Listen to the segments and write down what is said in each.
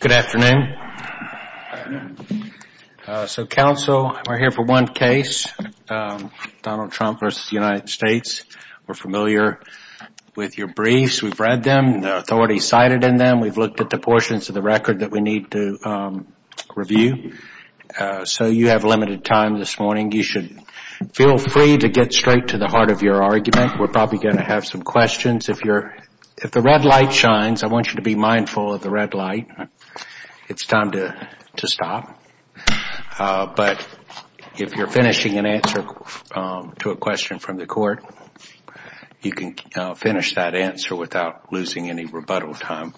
Good afternoon. So counsel, we're here for one case, Donald Trump v. United States. We're familiar with your briefs. We've read them. They're already cited in them. We've looked at the portions of the record that we need to review. So you have limited time this morning. You should feel free to get straight to the heart of your argument. We're probably going to have some questions. If the red light shines, I want you to be mindful of the red light. It's time to stop. But if you're finishing an answer to a question from the court, you can finish that answer without losing any rebuttal time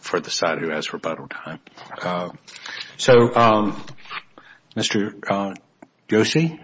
for the side who has rebuttal time. So, Mr. Joshi.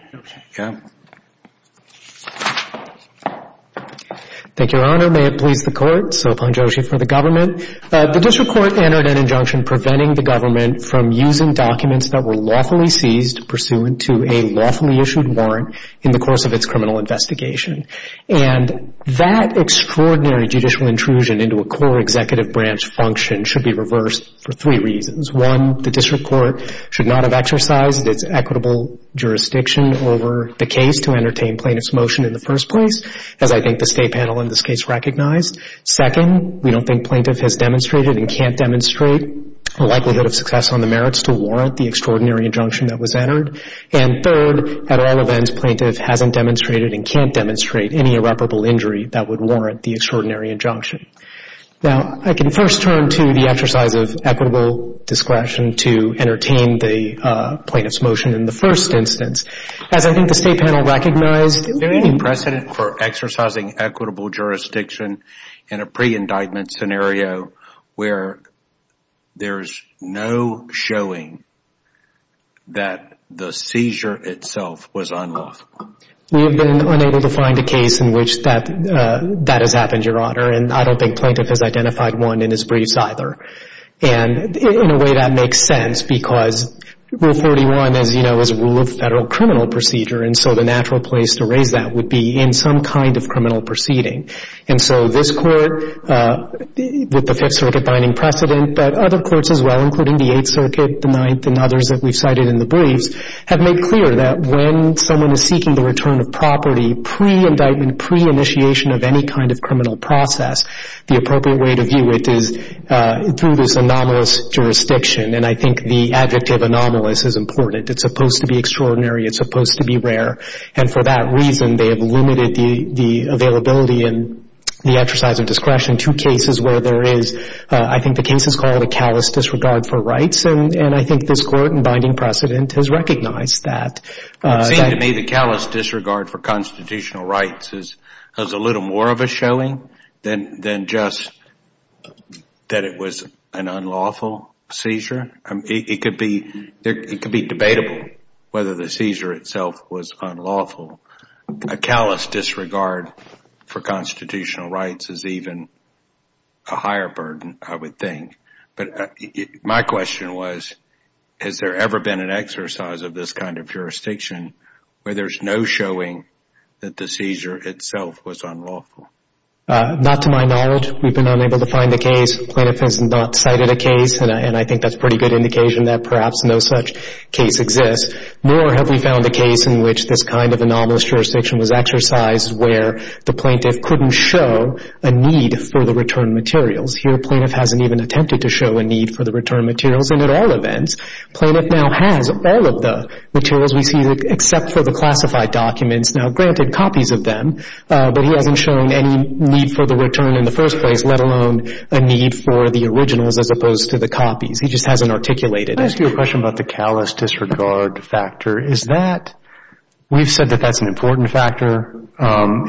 Thank you, Your Honor. May it please the court. Sophan Joshi for the government. The district court entered an injunction preventing the government from using documents that were lawfully seized pursuant to a lawfully issued warrant in the course of its criminal investigation. And that extraordinary judicial intrusion into a core executive branch function should be reversed for three reasons. One, the district court should not have exercised its equitable jurisdiction over the case to entertain plaintiff's motion in the first place, as I think the state panel in this case recognized. Second, we don't think plaintiff has demonstrated and can't demonstrate a likelihood of success on the merits to warrant the extraordinary injunction that was entered. And third, at all events, plaintiff hasn't demonstrated and can't demonstrate any irreparable injury that would warrant the extraordinary injunction. Now, I can first turn to the exercise of equitable discretion to entertain the plaintiff's motion in the first instance. As I think the state panel recognized. Is there any precedent for exercising equitable jurisdiction in a pre-indictment scenario where there's no showing that the seizure itself was unlawful? We have been unable to find a case in which that has happened, Your Honor. And I don't think plaintiff has identified one in his briefs either. And in a way, that makes sense because Rule 41, as you know, is a rule of federal criminal procedure. And so the natural place to raise that would be in some kind of criminal proceeding. And so this court, with the Fifth Circuit binding precedent, but other courts as well, including the Eighth Circuit, the Ninth, and others that we've cited in the briefs, have made clear that when someone is seeking the return of property pre-indictment, pre-initiation of any kind of criminal process, the appropriate way to view it is through this anomalous jurisdiction. And I think the adjective anomalous is important. It's supposed to be extraordinary. It's supposed to be rare. And for that reason, they have limited the availability and the exercise of discretion to cases where there is, I think the case is called a callous disregard for rights. And I think this court in binding precedent has recognized that. It seems to me the callous disregard for constitutional rights is a little more of a showing than just that it was an unlawful seizure. It could be debatable whether the seizure itself was unlawful. A callous disregard for constitutional rights is even a higher burden, I would think. My question was, has there ever been an exercise of this kind of jurisdiction where there's no showing that the seizure itself was unlawful? Not to my knowledge. We've been unable to find a case. Plaintiff has not cited a case, and I think that's a pretty good indication that perhaps no such case exists. Nor have we found a case in which this kind of anomalous jurisdiction was exercised where the plaintiff couldn't show a need for the return materials. Here, plaintiff hasn't even attempted to show a need for the return materials. And at all events, plaintiff now has all of the materials we see, except for the classified documents. Now, granted, copies of them, but he hasn't shown any need for the return in the first place, let alone a need for the originals as opposed to the copies. He just hasn't articulated it. Can I ask you a question about the callous disregard factor? Is that, we've said that that's an important factor.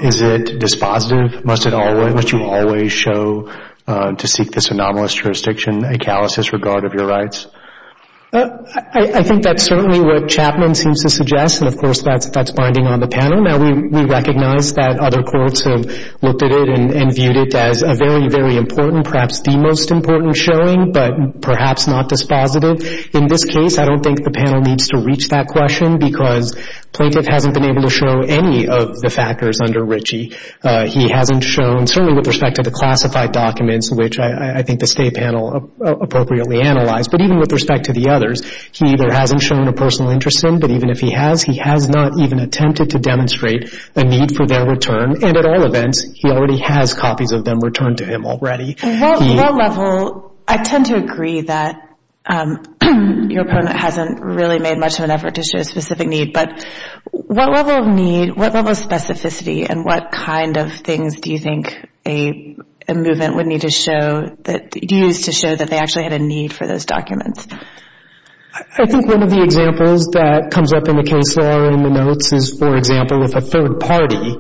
Is it dispositive? Must you always show to seek this anomalous jurisdiction a callous disregard of your rights? I think that's certainly what Chapman seems to suggest, and, of course, that's binding on the panel. Now, we recognize that other courts have looked at it and viewed it as a very, very important, perhaps the most important showing, but perhaps not dispositive. In this case, I don't think the panel needs to reach that question because plaintiff hasn't been able to show any of the factors under Ritchie. He hasn't shown, certainly with respect to the classified documents, which I think the State panel appropriately analyzed, but even with respect to the others, he either hasn't shown a personal interest in them, but even if he has, he has not even attempted to demonstrate a need for their return. And at all events, he already has copies of them returned to him already. What level, I tend to agree that your opponent hasn't really made much of an effort to show a specific need, but what level of need, what level of specificity, and what kind of things do you think a movement would need to show, use to show that they actually had a need for those documents? I think one of the examples that comes up in the case law in the notes is, for example, if a third party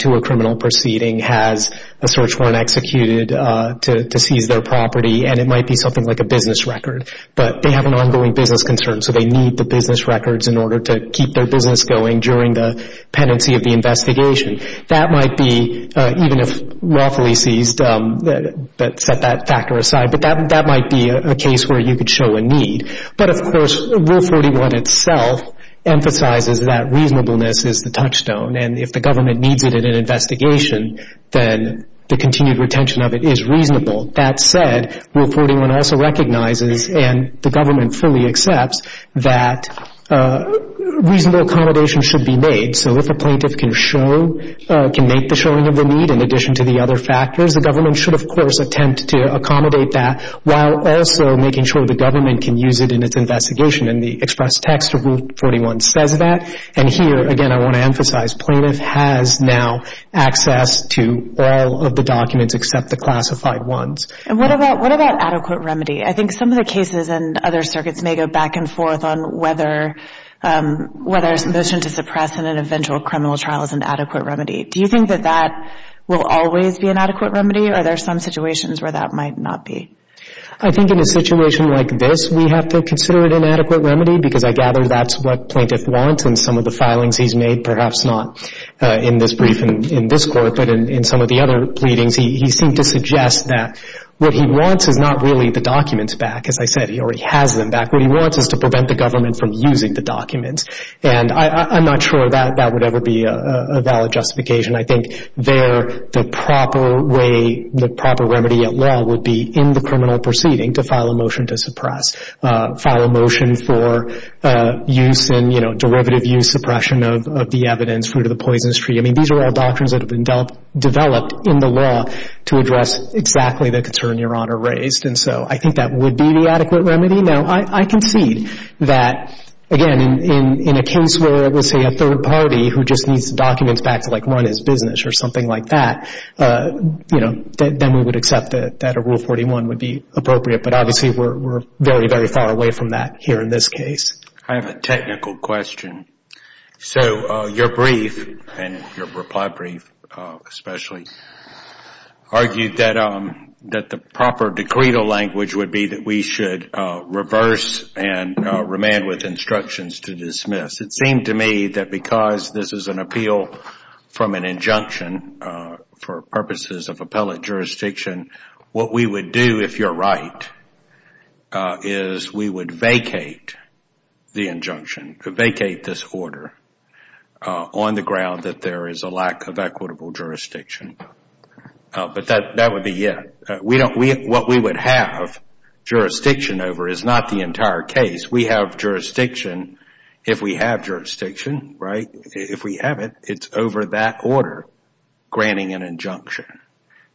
to a criminal proceeding has a search warrant executed to seize their property, and it might be something like a business record, but they have an ongoing business concern, so they need the business records in order to keep their business going during the pendency of the investigation. That might be, even if lawfully seized, set that factor aside, but that might be a case where you could show a need. But, of course, Rule 41 itself emphasizes that reasonableness is the touchstone, and if the government needs it in an investigation, then the continued retention of it is reasonable. That said, Rule 41 also recognizes, and the government fully accepts, that reasonable accommodation should be made. So if a plaintiff can show, can make the showing of the need in addition to the other factors, the government should, of course, attempt to accommodate that while also making sure the government can use it in its investigation, and the express text of Rule 41 says that. And here, again, I want to emphasize, plaintiff has now access to all of the documents except the classified ones. And what about adequate remedy? I think some of the cases in other circuits may go back and forth on whether a motion to suppress in an eventual criminal trial is an adequate remedy. Do you think that that will always be an adequate remedy, or are there some situations where that might not be? I think in a situation like this, we have to consider it an adequate remedy, because I gather that's what plaintiff wants in some of the filings he's made, perhaps not in this brief in this court, but in some of the other pleadings. He seemed to suggest that what he wants is not really the documents back. As I said, he already has them back. What he wants is to prevent the government from using the documents. And I'm not sure that that would ever be a valid justification. I think there the proper way, the proper remedy at law, would be in the criminal proceeding to file a motion to suppress, file a motion for use in, you know, derivative use suppression of the evidence, fruit of the poisonous tree. I mean, these are all doctrines that have been developed in the law to address exactly the concern Your Honor raised. And so I think that would be the adequate remedy. Now, I concede that, again, in a case where, let's say, a third party who just needs the documents back to, like, run his business or something like that, you know, then we would accept that a Rule 41 would be appropriate. But obviously we're very, very far away from that here in this case. I have a technical question. So your brief, and your reply brief especially, argued that the proper decretal language would be that we should reverse and remand with instructions to dismiss. It seemed to me that because this is an appeal from an injunction for purposes of is we would vacate the injunction, vacate this order, on the ground that there is a lack of equitable jurisdiction. But that would be it. What we would have jurisdiction over is not the entire case. We have jurisdiction if we have jurisdiction, right? If we have it, it's over that order, granting an injunction.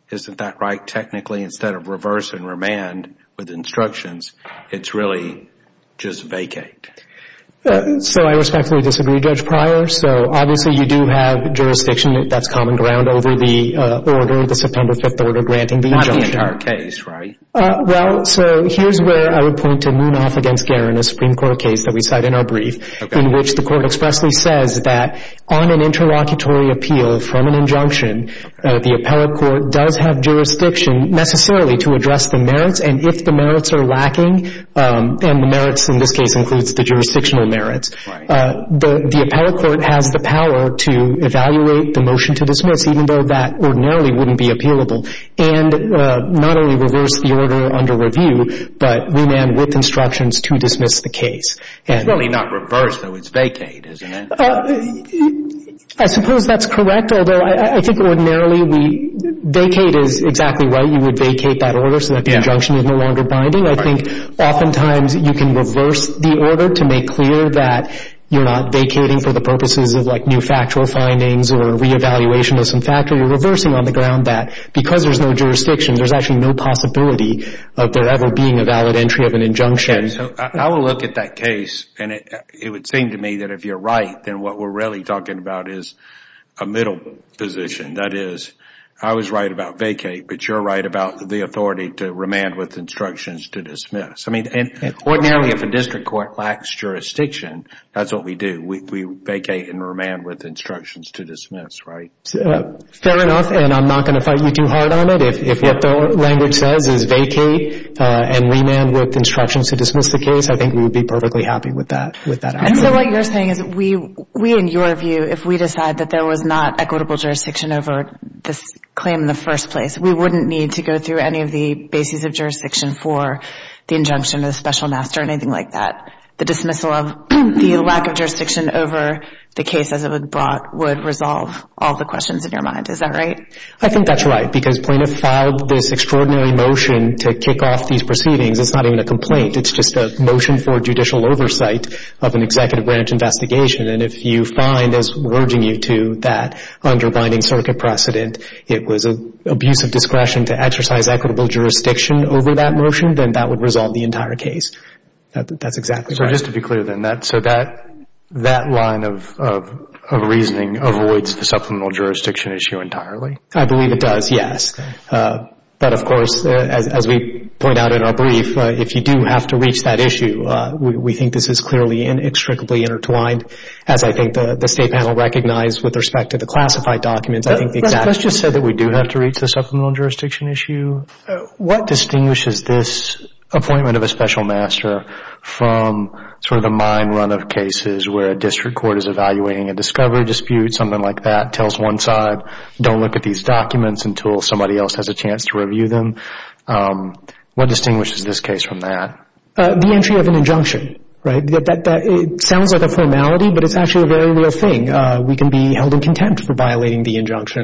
Isn't that right? Technically, instead of reverse and remand with instructions, it's really just vacate. So I respectfully disagree, Judge Pryor. So obviously you do have jurisdiction that's common ground over the order, the September 5th order granting the injunction. Not the entire case, right? Well, so here's where I would point to Munaf against Guerin, a Supreme Court case that we cite in our brief, in which the court expressly says that on an interlocutory appeal from an injunction, the appellate court does have jurisdiction necessarily to address the merits, and if the merits are lacking, and the merits in this case includes the jurisdictional merits, the appellate court has the power to evaluate the motion to dismiss, even though that ordinarily wouldn't be appealable, and not only reverse the order under review, but remand with instructions to dismiss the case. It's really not reverse, though. It's vacate, isn't it? I suppose that's correct, although I think ordinarily vacate is exactly right. You would vacate that order so that the injunction is no longer binding. I think oftentimes you can reverse the order to make clear that you're not vacating for the purposes of, like, new factual findings or reevaluation of some factor. You're reversing on the ground that because there's no jurisdiction, there's actually no possibility of there ever being a valid entry of an injunction. Okay, so I will look at that case, and it would seem to me that if you're right, then what we're really talking about is a middle position. That is, I was right about vacate, but you're right about the authority to remand with instructions to dismiss. I mean, ordinarily if a district court lacks jurisdiction, that's what we do. We vacate and remand with instructions to dismiss, right? Fair enough, and I'm not going to fight you too hard on it. If what the language says is vacate and remand with instructions to dismiss the case, I think we would be perfectly happy with that outcome. And so what you're saying is we, in your view, if we decide that there was not equitable jurisdiction over this claim in the first place, we wouldn't need to go through any of the bases of jurisdiction for the injunction or the special master or anything like that. The dismissal of the lack of jurisdiction over the case as it was brought would resolve all the questions in your mind. Is that right? I think that's right because plaintiff filed this extraordinary motion to kick off these proceedings. It's not even a complaint. It's just a motion for judicial oversight of an executive branch investigation. And if you find, as we're urging you to, that underbinding circuit precedent, it was an abuse of discretion to exercise equitable jurisdiction over that motion, then that would resolve the entire case. That's exactly right. So just to be clear then, so that line of reasoning avoids the supplemental jurisdiction issue entirely? I believe it does, yes. But, of course, as we point out in our brief, if you do have to reach that issue, we think this is clearly and inextricably intertwined, as I think the State panel recognized with respect to the classified documents. Let's just say that we do have to reach the supplemental jurisdiction issue. What distinguishes this appointment of a special master from sort of the mine run of cases where a district court is evaluating a discovery dispute, something like that, and tells one side, don't look at these documents until somebody else has a chance to review them? What distinguishes this case from that? The entry of an injunction, right? It sounds like a formality, but it's actually a very real thing. We can be held in contempt for violating the injunction.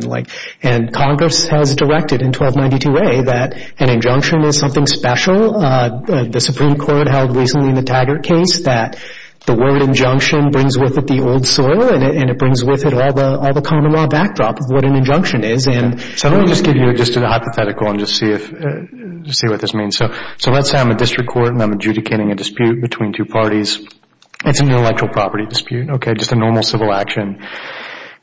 And Congress has directed in 1292A that an injunction is something special. The Supreme Court held recently in the Taggart case that the word injunction brings with it the old soil and it brings with it all the common law backdrop of what an injunction is. So let me just give you just a hypothetical and just see what this means. So let's say I'm a district court and I'm adjudicating a dispute between two parties. It's an intellectual property dispute, okay, just a normal civil action.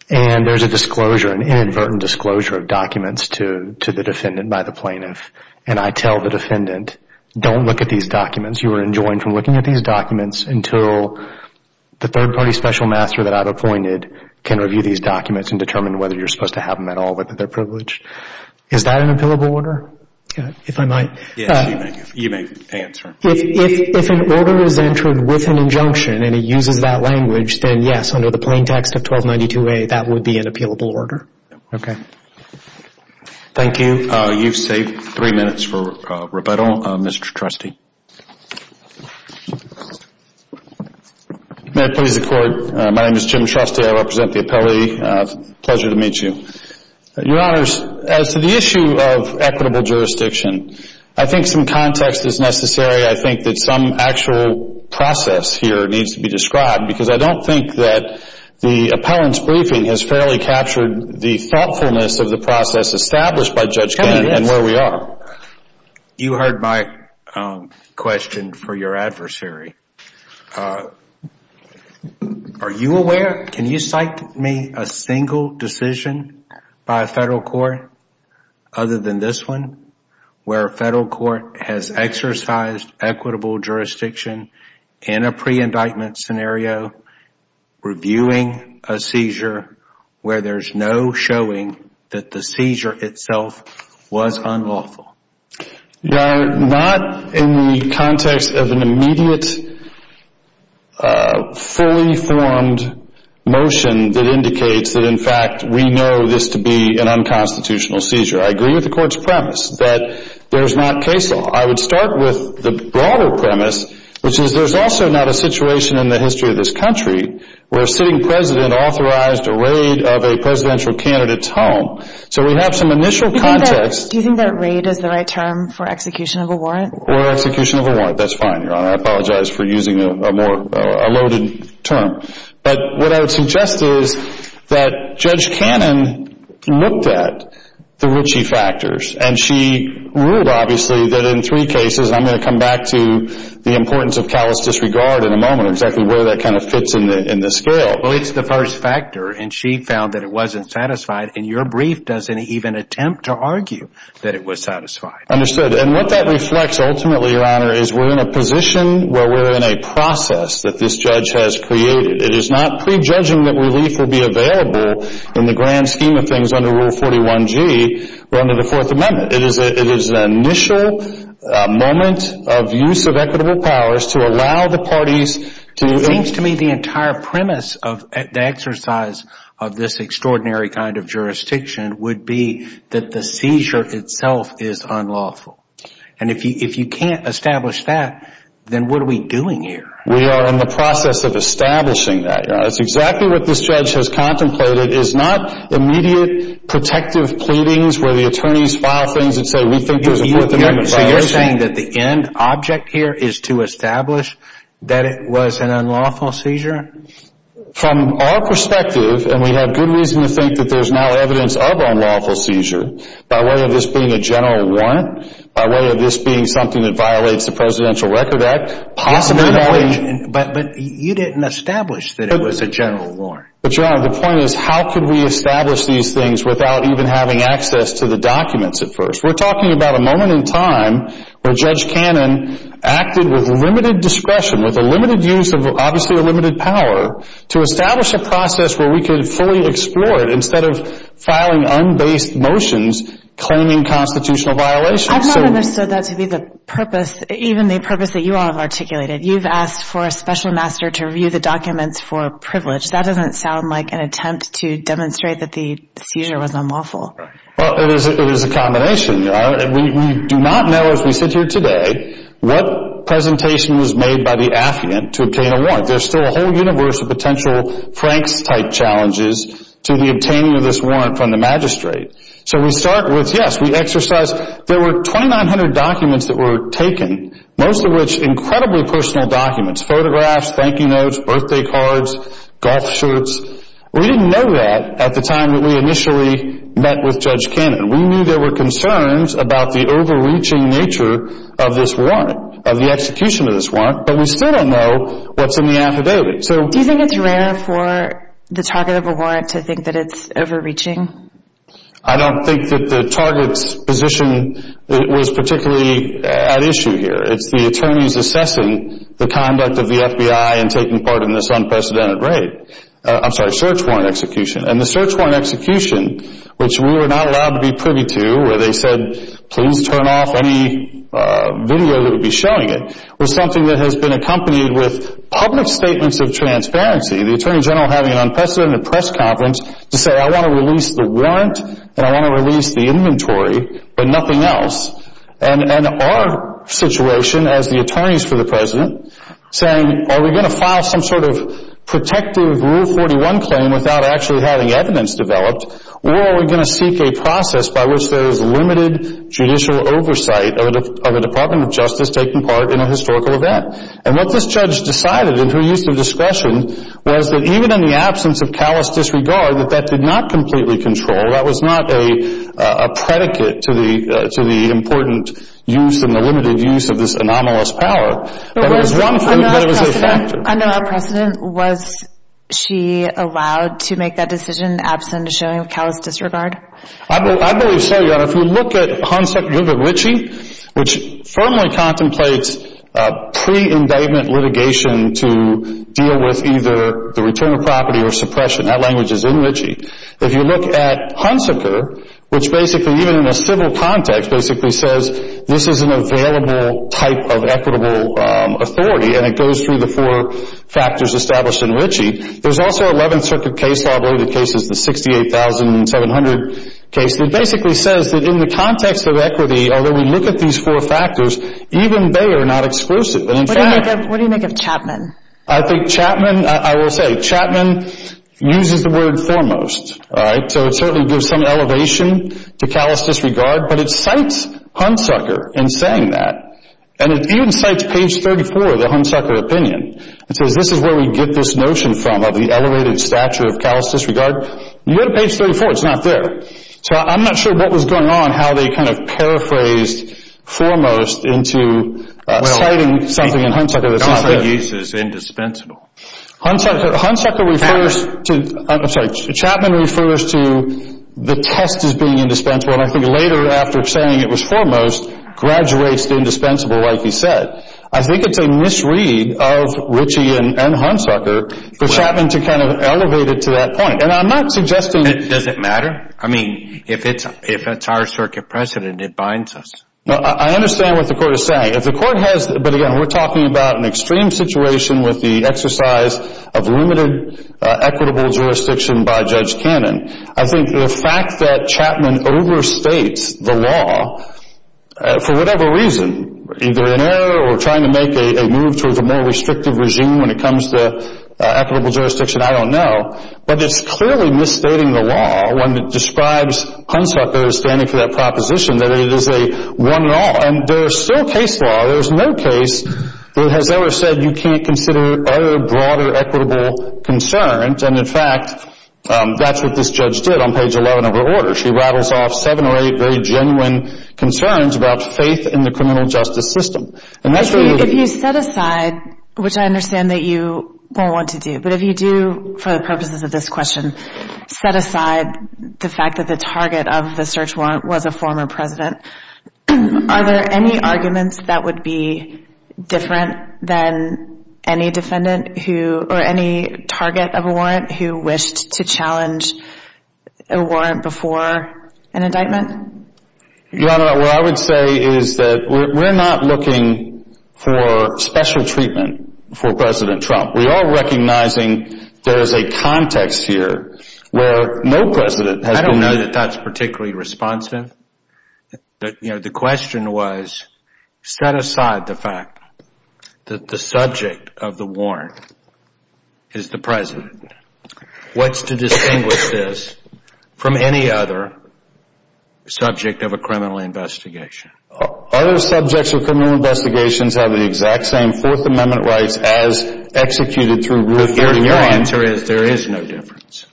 And there's a disclosure, an inadvertent disclosure of documents to the defendant by the plaintiff. And I tell the defendant, don't look at these documents. You are enjoined from looking at these documents until the third-party special master that I've appointed can review these documents and determine whether you're supposed to have them at all, whether they're privileged. Is that an appealable order? If I might. Yes, you may. You may answer. If an order is entered with an injunction and it uses that language, then yes, under the plain text of 1292A, that would be an appealable order. Okay. Thank you. You've saved three minutes for rebuttal, Mr. Trustee. May I please accord? My name is Jim Trustee. I represent the appellee. Pleasure to meet you. Your Honors, as to the issue of equitable jurisdiction, I think some context is necessary. I think that some actual process here needs to be described because I don't think that the appellant's briefing has fairly captured the thoughtfulness of the process established by Judge Gantt and where we are. You heard my question for your adversary. Are you aware, can you cite me a single decision by a federal court other than this one, where a federal court has exercised equitable jurisdiction in a pre-indictment scenario, reviewing a seizure where there's no showing that the seizure itself was unlawful? Not in the context of an immediate, fully formed motion that indicates that, in fact, we know this to be an unconstitutional seizure. I agree with the Court's premise that there's not case law. I would start with the broader premise, which is there's also not a situation in the history of this country where a sitting president authorized a raid of a presidential candidate's home. So we have some initial context. Do you think that raid is the right term for execution of a warrant? Or execution of a warrant. That's fine, Your Honor. I apologize for using a more loaded term. But what I would suggest is that Judge Cannon looked at the Ritchie factors, and she ruled, obviously, that in three cases, and I'm going to come back to the importance of callous disregard in a moment, exactly where that kind of fits in the scale. Well, it's the first factor, and she found that it wasn't satisfied, and your brief doesn't even attempt to argue that it was satisfied. Understood. And what that reflects, ultimately, Your Honor, is we're in a position where we're in a process that this judge has created. It is not prejudging that relief will be available in the grand scheme of things under Rule 41G, or under the Fourth Amendment. It is an initial moment of use of equitable powers to allow the parties to... It seems to me the entire premise of the exercise of this extraordinary kind of jurisdiction would be that the seizure itself is unlawful. And if you can't establish that, then what are we doing here? That's exactly what this judge has contemplated, is not immediate protective pleadings where the attorneys file things and say, we think there's a Fourth Amendment violation. So you're saying that the end object here is to establish that it was an unlawful seizure? From our perspective, and we have good reason to think that there's now evidence of unlawful seizure, by way of this being a general warrant, by way of this being something that violates the Presidential Record Act, possibly... But, Your Honor, the point is how could we establish these things without even having access to the documents at first? We're talking about a moment in time where Judge Cannon acted with limited discretion, with a limited use of, obviously, a limited power, to establish a process where we could fully explore it instead of filing unbased motions claiming constitutional violations. I've not understood that to be the purpose, even the purpose that you all have articulated. You've asked for a special master to review the documents for privilege. That doesn't sound like an attempt to demonstrate that the seizure was unlawful. Well, it is a combination. We do not know, as we sit here today, what presentation was made by the affiant to obtain a warrant. There's still a whole universe of potential Franks-type challenges to the obtaining of this warrant from the magistrate. So we start with, yes, we exercise... There were 2,900 documents that were taken, most of which incredibly personal documents, photographs, thank you notes, birthday cards, golf shirts. We didn't know that at the time that we initially met with Judge Cannon. We knew there were concerns about the overreaching nature of this warrant, of the execution of this warrant, but we still don't know what's in the affidavit. Do you think it's rare for the target of a warrant to think that it's overreaching? I don't think that the target's position was particularly at issue here. It's the attorney's assessing the conduct of the FBI in taking part in this unprecedented raid. I'm sorry, search warrant execution. And the search warrant execution, which we were not allowed to be privy to, where they said, please turn off any video that would be showing it, was something that has been accompanied with public statements of transparency. The Attorney General having an unprecedented press conference to say, I want to release the warrant and I want to release the inventory, but nothing else. And our situation as the attorneys for the President saying, are we going to file some sort of protective Rule 41 claim without actually having evidence developed, or are we going to seek a process by which there is limited judicial oversight of the Department of Justice taking part in a historical event? And what this judge decided, in her use of discretion, was that even in the absence of callous disregard, that that did not completely control, that was not a predicate to the important use and the limited use of this anomalous power. It was one thing, but it was a factor. Under our precedent, was she allowed to make that decision, absent of showing callous disregard? I believe so, Your Honor. If you look at Hunsaker, you look at Ritchie, which firmly contemplates pre-indictment litigation to deal with either the return of property or suppression. That language is in Ritchie. If you look at Hunsaker, which basically, even in a civil context, basically says this is an available type of equitable authority, and it goes through the four factors established in Ritchie. There's also 11th Circuit case law, I believe the case is the 68,700 case, that basically says that in the context of equity, although we look at these four factors, even they are not exclusive. What do you make of Chapman? I think Chapman, I will say, Chapman uses the word foremost. So it certainly gives some elevation to callous disregard, but it cites Hunsaker in saying that. And it even cites page 34 of the Hunsaker opinion. It says this is where we get this notion from, of the elevated stature of callous disregard. You go to page 34, it's not there. So I'm not sure what was going on, how they kind of paraphrased foremost into citing something in Hunsaker that's not there. Well, he uses indispensable. Hunsaker refers to, I'm sorry, Chapman refers to the test as being indispensable, and I think later after saying it was foremost, graduates to indispensable like he said. I think it's a misread of Ritchie and Hunsaker for Chapman to kind of elevate it to that point. And I'm not suggesting that. Does it matter? I mean, if it's our circuit precedent, it binds us. I understand what the Court is saying. If the Court has, but again, we're talking about an extreme situation with the exercise of limited equitable jurisdiction by Judge Cannon. I think the fact that Chapman overstates the law for whatever reason, either an error or trying to make a move towards a more restrictive regime when it comes to equitable jurisdiction, I don't know. But it's clearly misstating the law when it describes Hunsaker standing for that proposition that it is a one-and-all. And there is still case law. There is no case that has ever said you can't consider other broader equitable concerns. And, in fact, that's what this judge did on page 11 of her order. She rattles off seven or eight very genuine concerns about faith in the criminal justice system. And that's really the— If you set aside, which I understand that you don't want to do, but if you do for the purposes of this question, set aside the fact that the target of the search warrant was a former president, are there any arguments that would be different than any defendant who— or any target of a warrant who wished to challenge a warrant before an indictment? Your Honor, what I would say is that we're not looking for special treatment for President Trump. We are recognizing there is a context here where no president has been— I don't know that that's particularly responsive. The question was set aside the fact that the subject of the warrant is the president. What's to distinguish this from any other subject of a criminal investigation? Other subjects of criminal investigations have the exact same Fourth Amendment rights as executed through Rule 41. Your answer is there is no difference.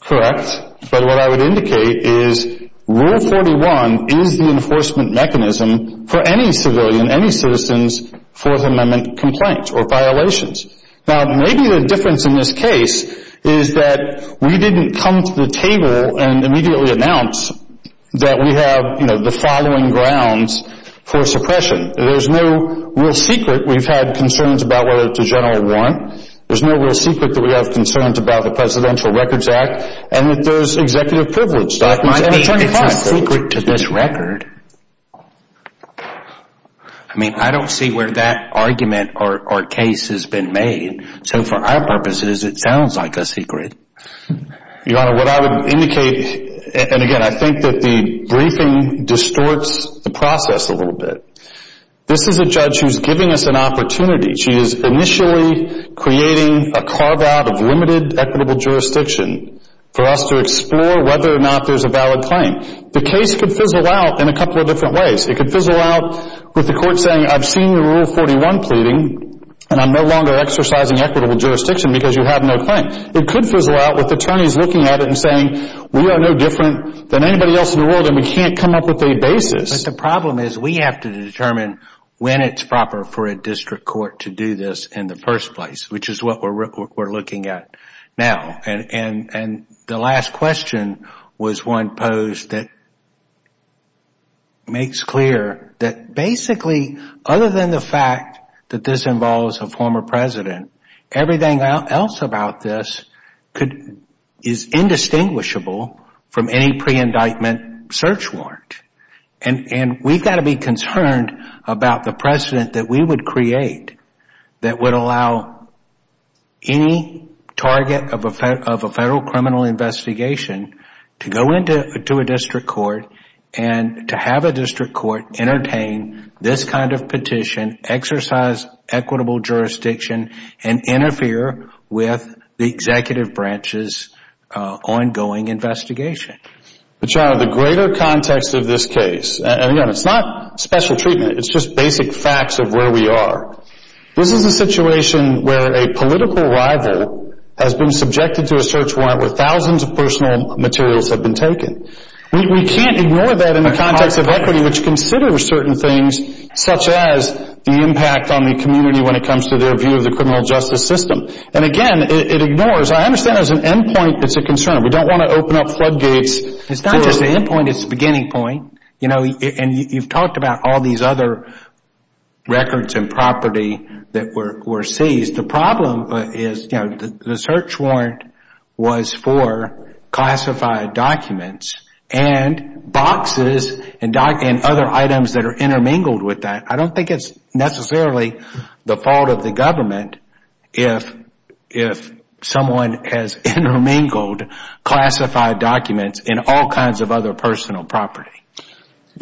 Correct. But what I would indicate is Rule 41 is the enforcement mechanism for any civilian, any citizen's Fourth Amendment complaints or violations. Now, maybe the difference in this case is that we didn't come to the table and immediately announce that we have, you know, the following grounds for suppression. There's no real secret we've had concerns about whether it's a general warrant. There's no real secret that we have concerns about the Presidential Records Act and that there's executive privilege. It might be a secret to this record. I mean, I don't see where that argument or case has been made. So for our purposes, it sounds like a secret. Your Honor, what I would indicate, and again, I think that the briefing distorts the process a little bit. This is a judge who's giving us an opportunity. She is initially creating a carve-out of limited equitable jurisdiction for us to explore whether or not there's a valid claim. The case could fizzle out in a couple of different ways. It could fizzle out with the court saying I've seen the Rule 41 pleading and I'm no longer exercising equitable jurisdiction because you have no claim. It could fizzle out with attorneys looking at it and saying we are no different than anybody else in the world and we can't come up with a basis. But the problem is we have to determine when it's proper for a district court to do this in the first place, which is what we're looking at now. And the last question was one posed that makes clear that basically, other than the fact that this involves a former president, everything else about this is indistinguishable from any pre-indictment search warrant. And we've got to be concerned about the precedent that we would create that would allow any target of a federal criminal investigation to go into a district court and to have a district court entertain this kind of petition, exercise equitable jurisdiction, and interfere with the executive branch's ongoing investigation. But John, the greater context of this case, and again, it's not special treatment. It's just basic facts of where we are. This is a situation where a political rival has been subjected to a search warrant where thousands of personal materials have been taken. We can't ignore that in the context of equity, which considers certain things, such as the impact on the community when it comes to their view of the criminal justice system. And again, it ignores. I understand there's an end point that's a concern. We don't want to open up floodgates. It's not just the end point. It's the beginning point. And you've talked about all these other records and property that were seized. The problem is the search warrant was for classified documents and boxes and other items that are intermingled with that. I don't think it's necessarily the fault of the government if someone has intermingled classified documents in all kinds of other personal property.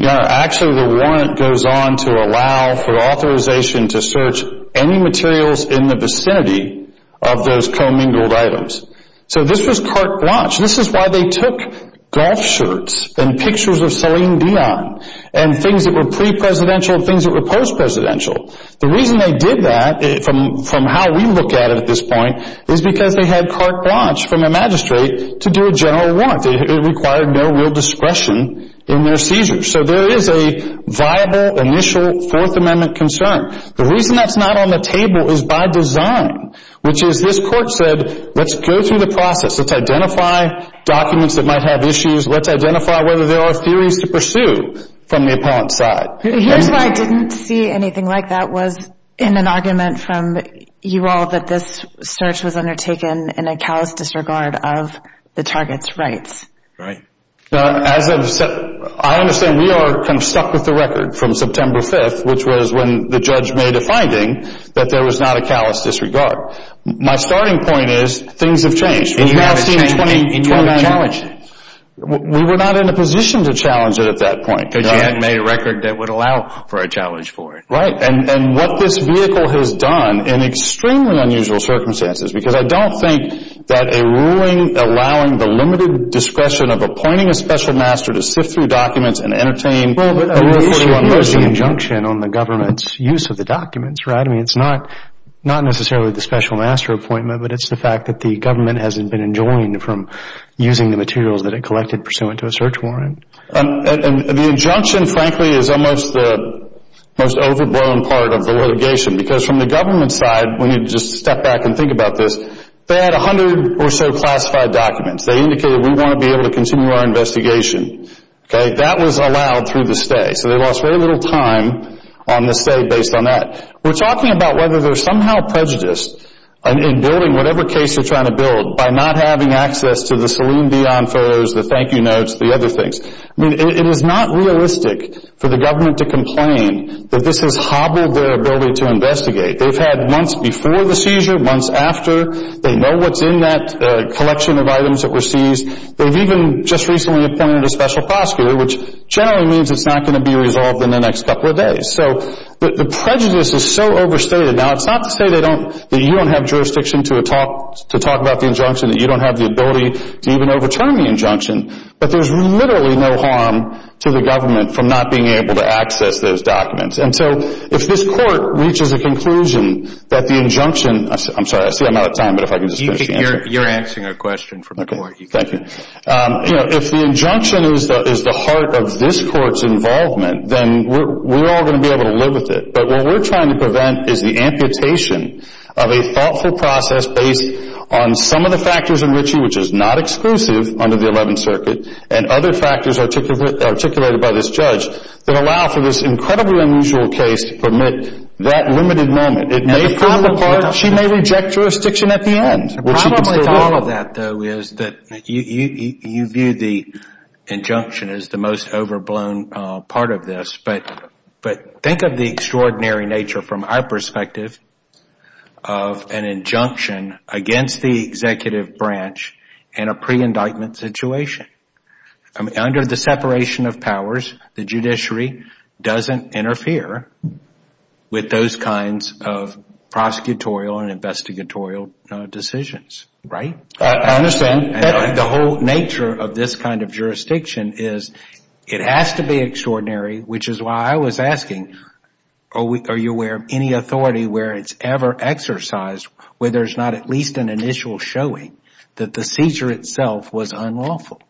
Actually, the warrant goes on to allow for authorization to search any materials in the vicinity of those commingled items. So this was carte blanche. This is why they took golf shirts and pictures of Celine Dion and things that were pre-presidential and things that were post-presidential. The reason they did that, from how we look at it at this point, is because they had carte blanche from a magistrate to do a general warrant. It required no real discretion in their seizures. So there is a viable, initial Fourth Amendment concern. The reason that's not on the table is by design, which is this court said let's go through the process. Let's identify documents that might have issues. Let's identify whether there are theories to pursue from the appellant's side. Here's why I didn't see anything like that was in an argument from you all that this search was undertaken in a callous disregard of the target's rights. Right. I understand we are kind of stuck with the record from September 5th, which was when the judge made a finding that there was not a callous disregard. My starting point is things have changed. And you haven't challenged it. We were not in a position to challenge it at that point. Because you hadn't made a record that would allow for a challenge for it. Right. And what this vehicle has done in extremely unusual circumstances, because I don't think that a ruling allowing the limited discretion of appointing a special master to sift through documents and entertain a rule 41, there's an injunction on the government's use of the documents, right? I mean, it's not necessarily the special master appointment, but it's the fact that the government hasn't been enjoined from using the materials that it collected pursuant to a search warrant. And the injunction, frankly, is almost the most overblown part of the litigation. Because from the government's side, when you just step back and think about this, they had 100 or so classified documents. They indicated we want to be able to continue our investigation. Okay. That was allowed through the stay. So they lost very little time on the stay based on that. We're talking about whether there's somehow prejudice in building whatever case you're trying to build by not having access to the Celine Dion photos, the thank you notes, the other things. I mean, it is not realistic for the government to complain that this has hobbled their ability to investigate. They've had months before the seizure, months after. They know what's in that collection of items that were seized. They've even just recently appointed a special prosecutor, which generally means it's not going to be resolved in the next couple of days. So the prejudice is so overstated. Now, it's not to say that you don't have jurisdiction to talk about the injunction, that you don't have the ability to even overturn the injunction. But there's literally no harm to the government from not being able to access those documents. And so if this court reaches a conclusion that the injunction – I'm sorry, I see I'm out of time, but if I can just finish the answer. You're answering a question from the court. Thank you. You know, if the injunction is the heart of this court's involvement, then we're all going to be able to live with it. But what we're trying to prevent is the amputation of a thoughtful process based on some of the factors in Ritchie which is not exclusive under the 11th Circuit and other factors articulated by this judge that allow for this incredibly unusual case to permit that limited moment. And the problem is she may reject jurisdiction at the end. The problem with all of that, though, is that you view the injunction as the most overblown part of this. But think of the extraordinary nature from our perspective of an injunction against the executive branch in a pre-indictment situation. Under the separation of powers, the judiciary doesn't interfere with those kinds of prosecutorial and investigatorial decisions, right? I understand. The whole nature of this kind of jurisdiction is it has to be extraordinary, which is why I was asking, are you aware of any authority where it's ever exercised where there's not at least an initial showing that the seizure itself was unlawful?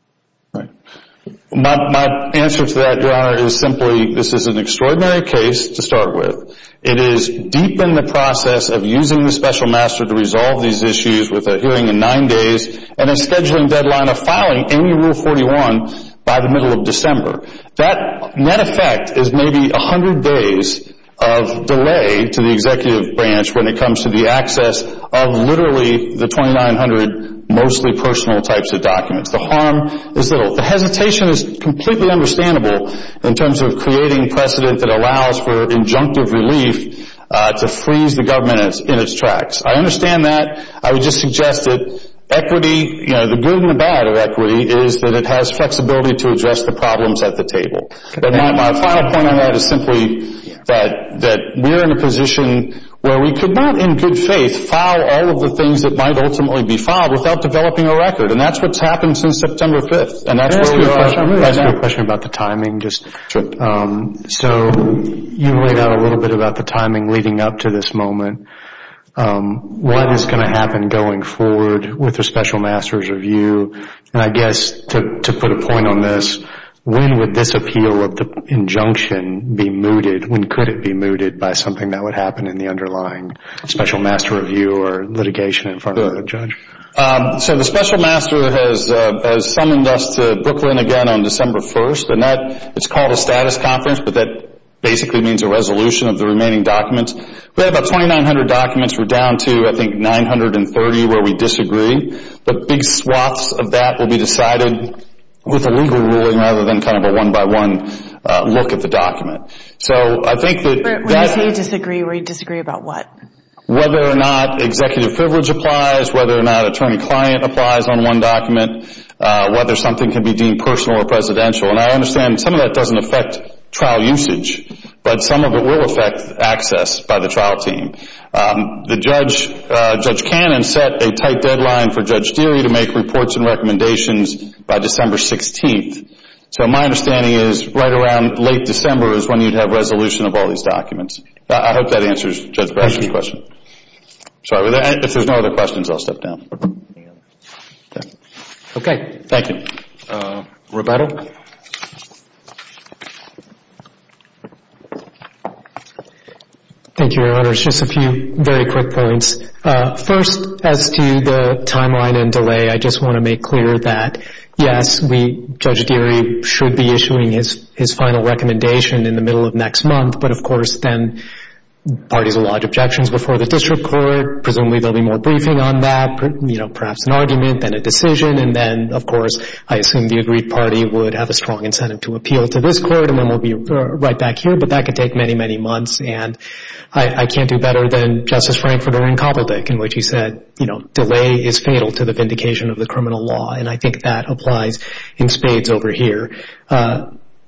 My answer to that, Your Honor, is simply this is an extraordinary case to start with. It is deep in the process of using the special master to resolve these issues with a hearing in nine days and a scheduling deadline of filing in Rule 41 by the middle of December. That net effect is maybe 100 days of delay to the executive branch when it comes to the access of literally the 2,900 mostly personal types of documents. The harm is little. The hesitation is completely understandable in terms of creating precedent that allows for injunctive relief to freeze the government in its tracks. I understand that. I would just suggest that equity, you know, the good and the bad of equity is that it has flexibility to address the problems at the table. My final point on that is simply that we're in a position where we could not, in good faith, file all of the things that might ultimately be filed without developing a record, and that's what's happened since September 5th. Can I ask you a question about the timing? Sure. So you laid out a little bit about the timing leading up to this moment. What is going to happen going forward with the special master's review? And I guess to put a point on this, when would this appeal of the injunction be mooted? When could it be mooted by something that would happen in the underlying special master review or litigation in front of the judge? So the special master has summoned us to Brooklyn again on December 1st. It's called a status conference, but that basically means a resolution of the remaining documents. We have about 2,900 documents. We're down to, I think, 930 where we disagree. But big swaths of that will be decided with a legal ruling rather than kind of a one-by-one look at the document. So I think that that's... Where you say you disagree, where you disagree about what? Whether or not executive privilege applies, whether or not attorney-client applies on one document, whether something can be deemed personal or presidential. And I understand some of that doesn't affect trial usage, but some of it will affect access by the trial team. Judge Cannon set a tight deadline for Judge Deery to make reports and recommendations by December 16th. So my understanding is right around late December is when you'd have resolution of all these documents. I hope that answers Judge Bradshaw's question. Thank you. Sorry, if there's no other questions, I'll step down. Okay, thank you. Roberto? Thank you, Your Honors. Just a few very quick points. First, as to the timeline and delay, I just want to make clear that, yes, Judge Deery should be issuing his final recommendation in the middle of next month. But, of course, then parties will lodge objections before the district court. Presumably there will be more briefing on that, perhaps an argument, then a decision. And then, of course, I assume the agreed party would have a strong incentive to appeal to this court, and then we'll be right back here. But that could take many, many months. And I can't do better than Justice Frankfurter in Cobbledick in which he said, you know, delay is fatal to the vindication of the criminal law. And I think that applies in spades over here.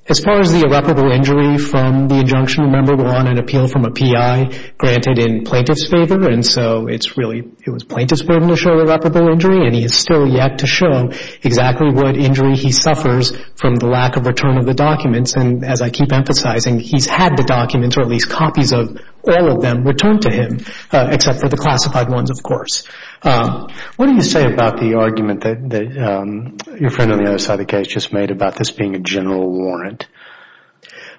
As far as the irreparable injury from the injunction, remember we're on an appeal from a PI granted in plaintiff's favor. And so it's really, it was plaintiff's burden to show irreparable injury, and he has still yet to show exactly what injury he suffers from the lack of return of the documents. And as I keep emphasizing, he's had the documents, or at least copies of all of them, returned to him, except for the classified ones, of course. What do you say about the argument that your friend on the other side of the case just made about this being a general warrant?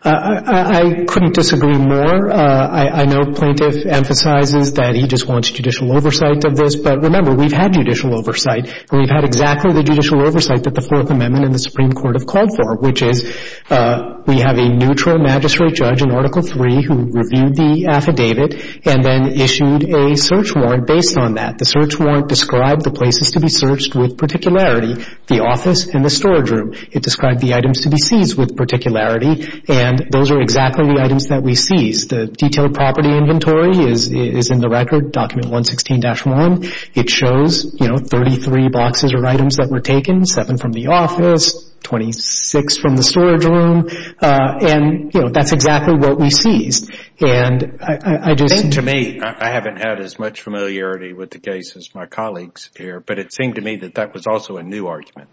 I couldn't disagree more. I know plaintiff emphasizes that he just wants judicial oversight of this. But remember, we've had judicial oversight, and we've had exactly the judicial oversight that the Fourth Amendment and the Supreme Court have called for, which is we have a neutral magistrate judge in Article III who reviewed the affidavit and then issued a search warrant based on that. The search warrant described the places to be searched with particularity, the office and the storage room. It described the items to be seized with particularity. And those are exactly the items that we seized. The detailed property inventory is in the record, Document 116-1. It shows 33 boxes of items that were taken, 7 from the office, 26 from the storage room. And that's exactly what we seized. To me, I haven't had as much familiarity with the case as my colleagues here, but it seemed to me that that was also a new argument.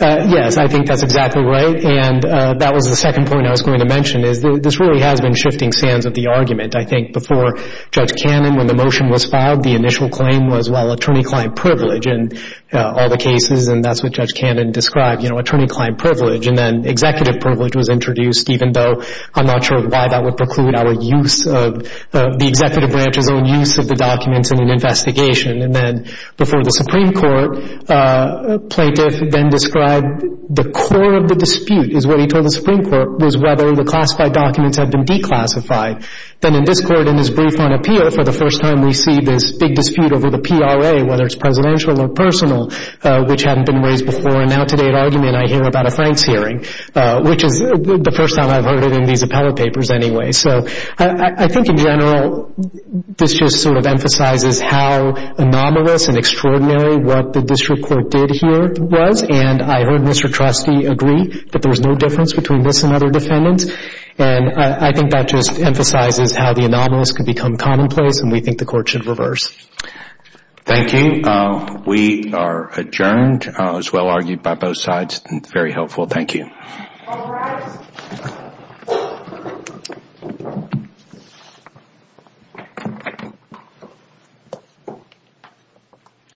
Yes, I think that's exactly right. And that was the second point I was going to mention is this really has been shifting sands of the argument. I think before Judge Cannon, when the motion was filed, the initial claim was, well, attorney-client privilege in all the cases, and that's what Judge Cannon described, you know, attorney-client privilege. And then executive privilege was introduced, even though I'm not sure why that would preclude our use of the executive branch's own use of the documents in an investigation. And then before the Supreme Court, a plaintiff then described the core of the dispute, is what he told the Supreme Court, was whether the classified documents had been declassified. Then in this court, in his brief on appeal, for the first time we see this big dispute over the PRA, whether it's presidential or personal, which hadn't been raised before. And now today at argument, I hear about a Franks hearing, which is the first time I've heard it in these appellate papers anyway. So I think in general, this just sort of emphasizes how anomalous and extraordinary what the district court did here was. And I heard Mr. Trustee agree that there was no difference between this and other defendants. And I think that just emphasizes how the anomalous could become commonplace, and we think the court should reverse. Thank you. We are adjourned. It was well-argued by both sides and very helpful. Thank you. All rise.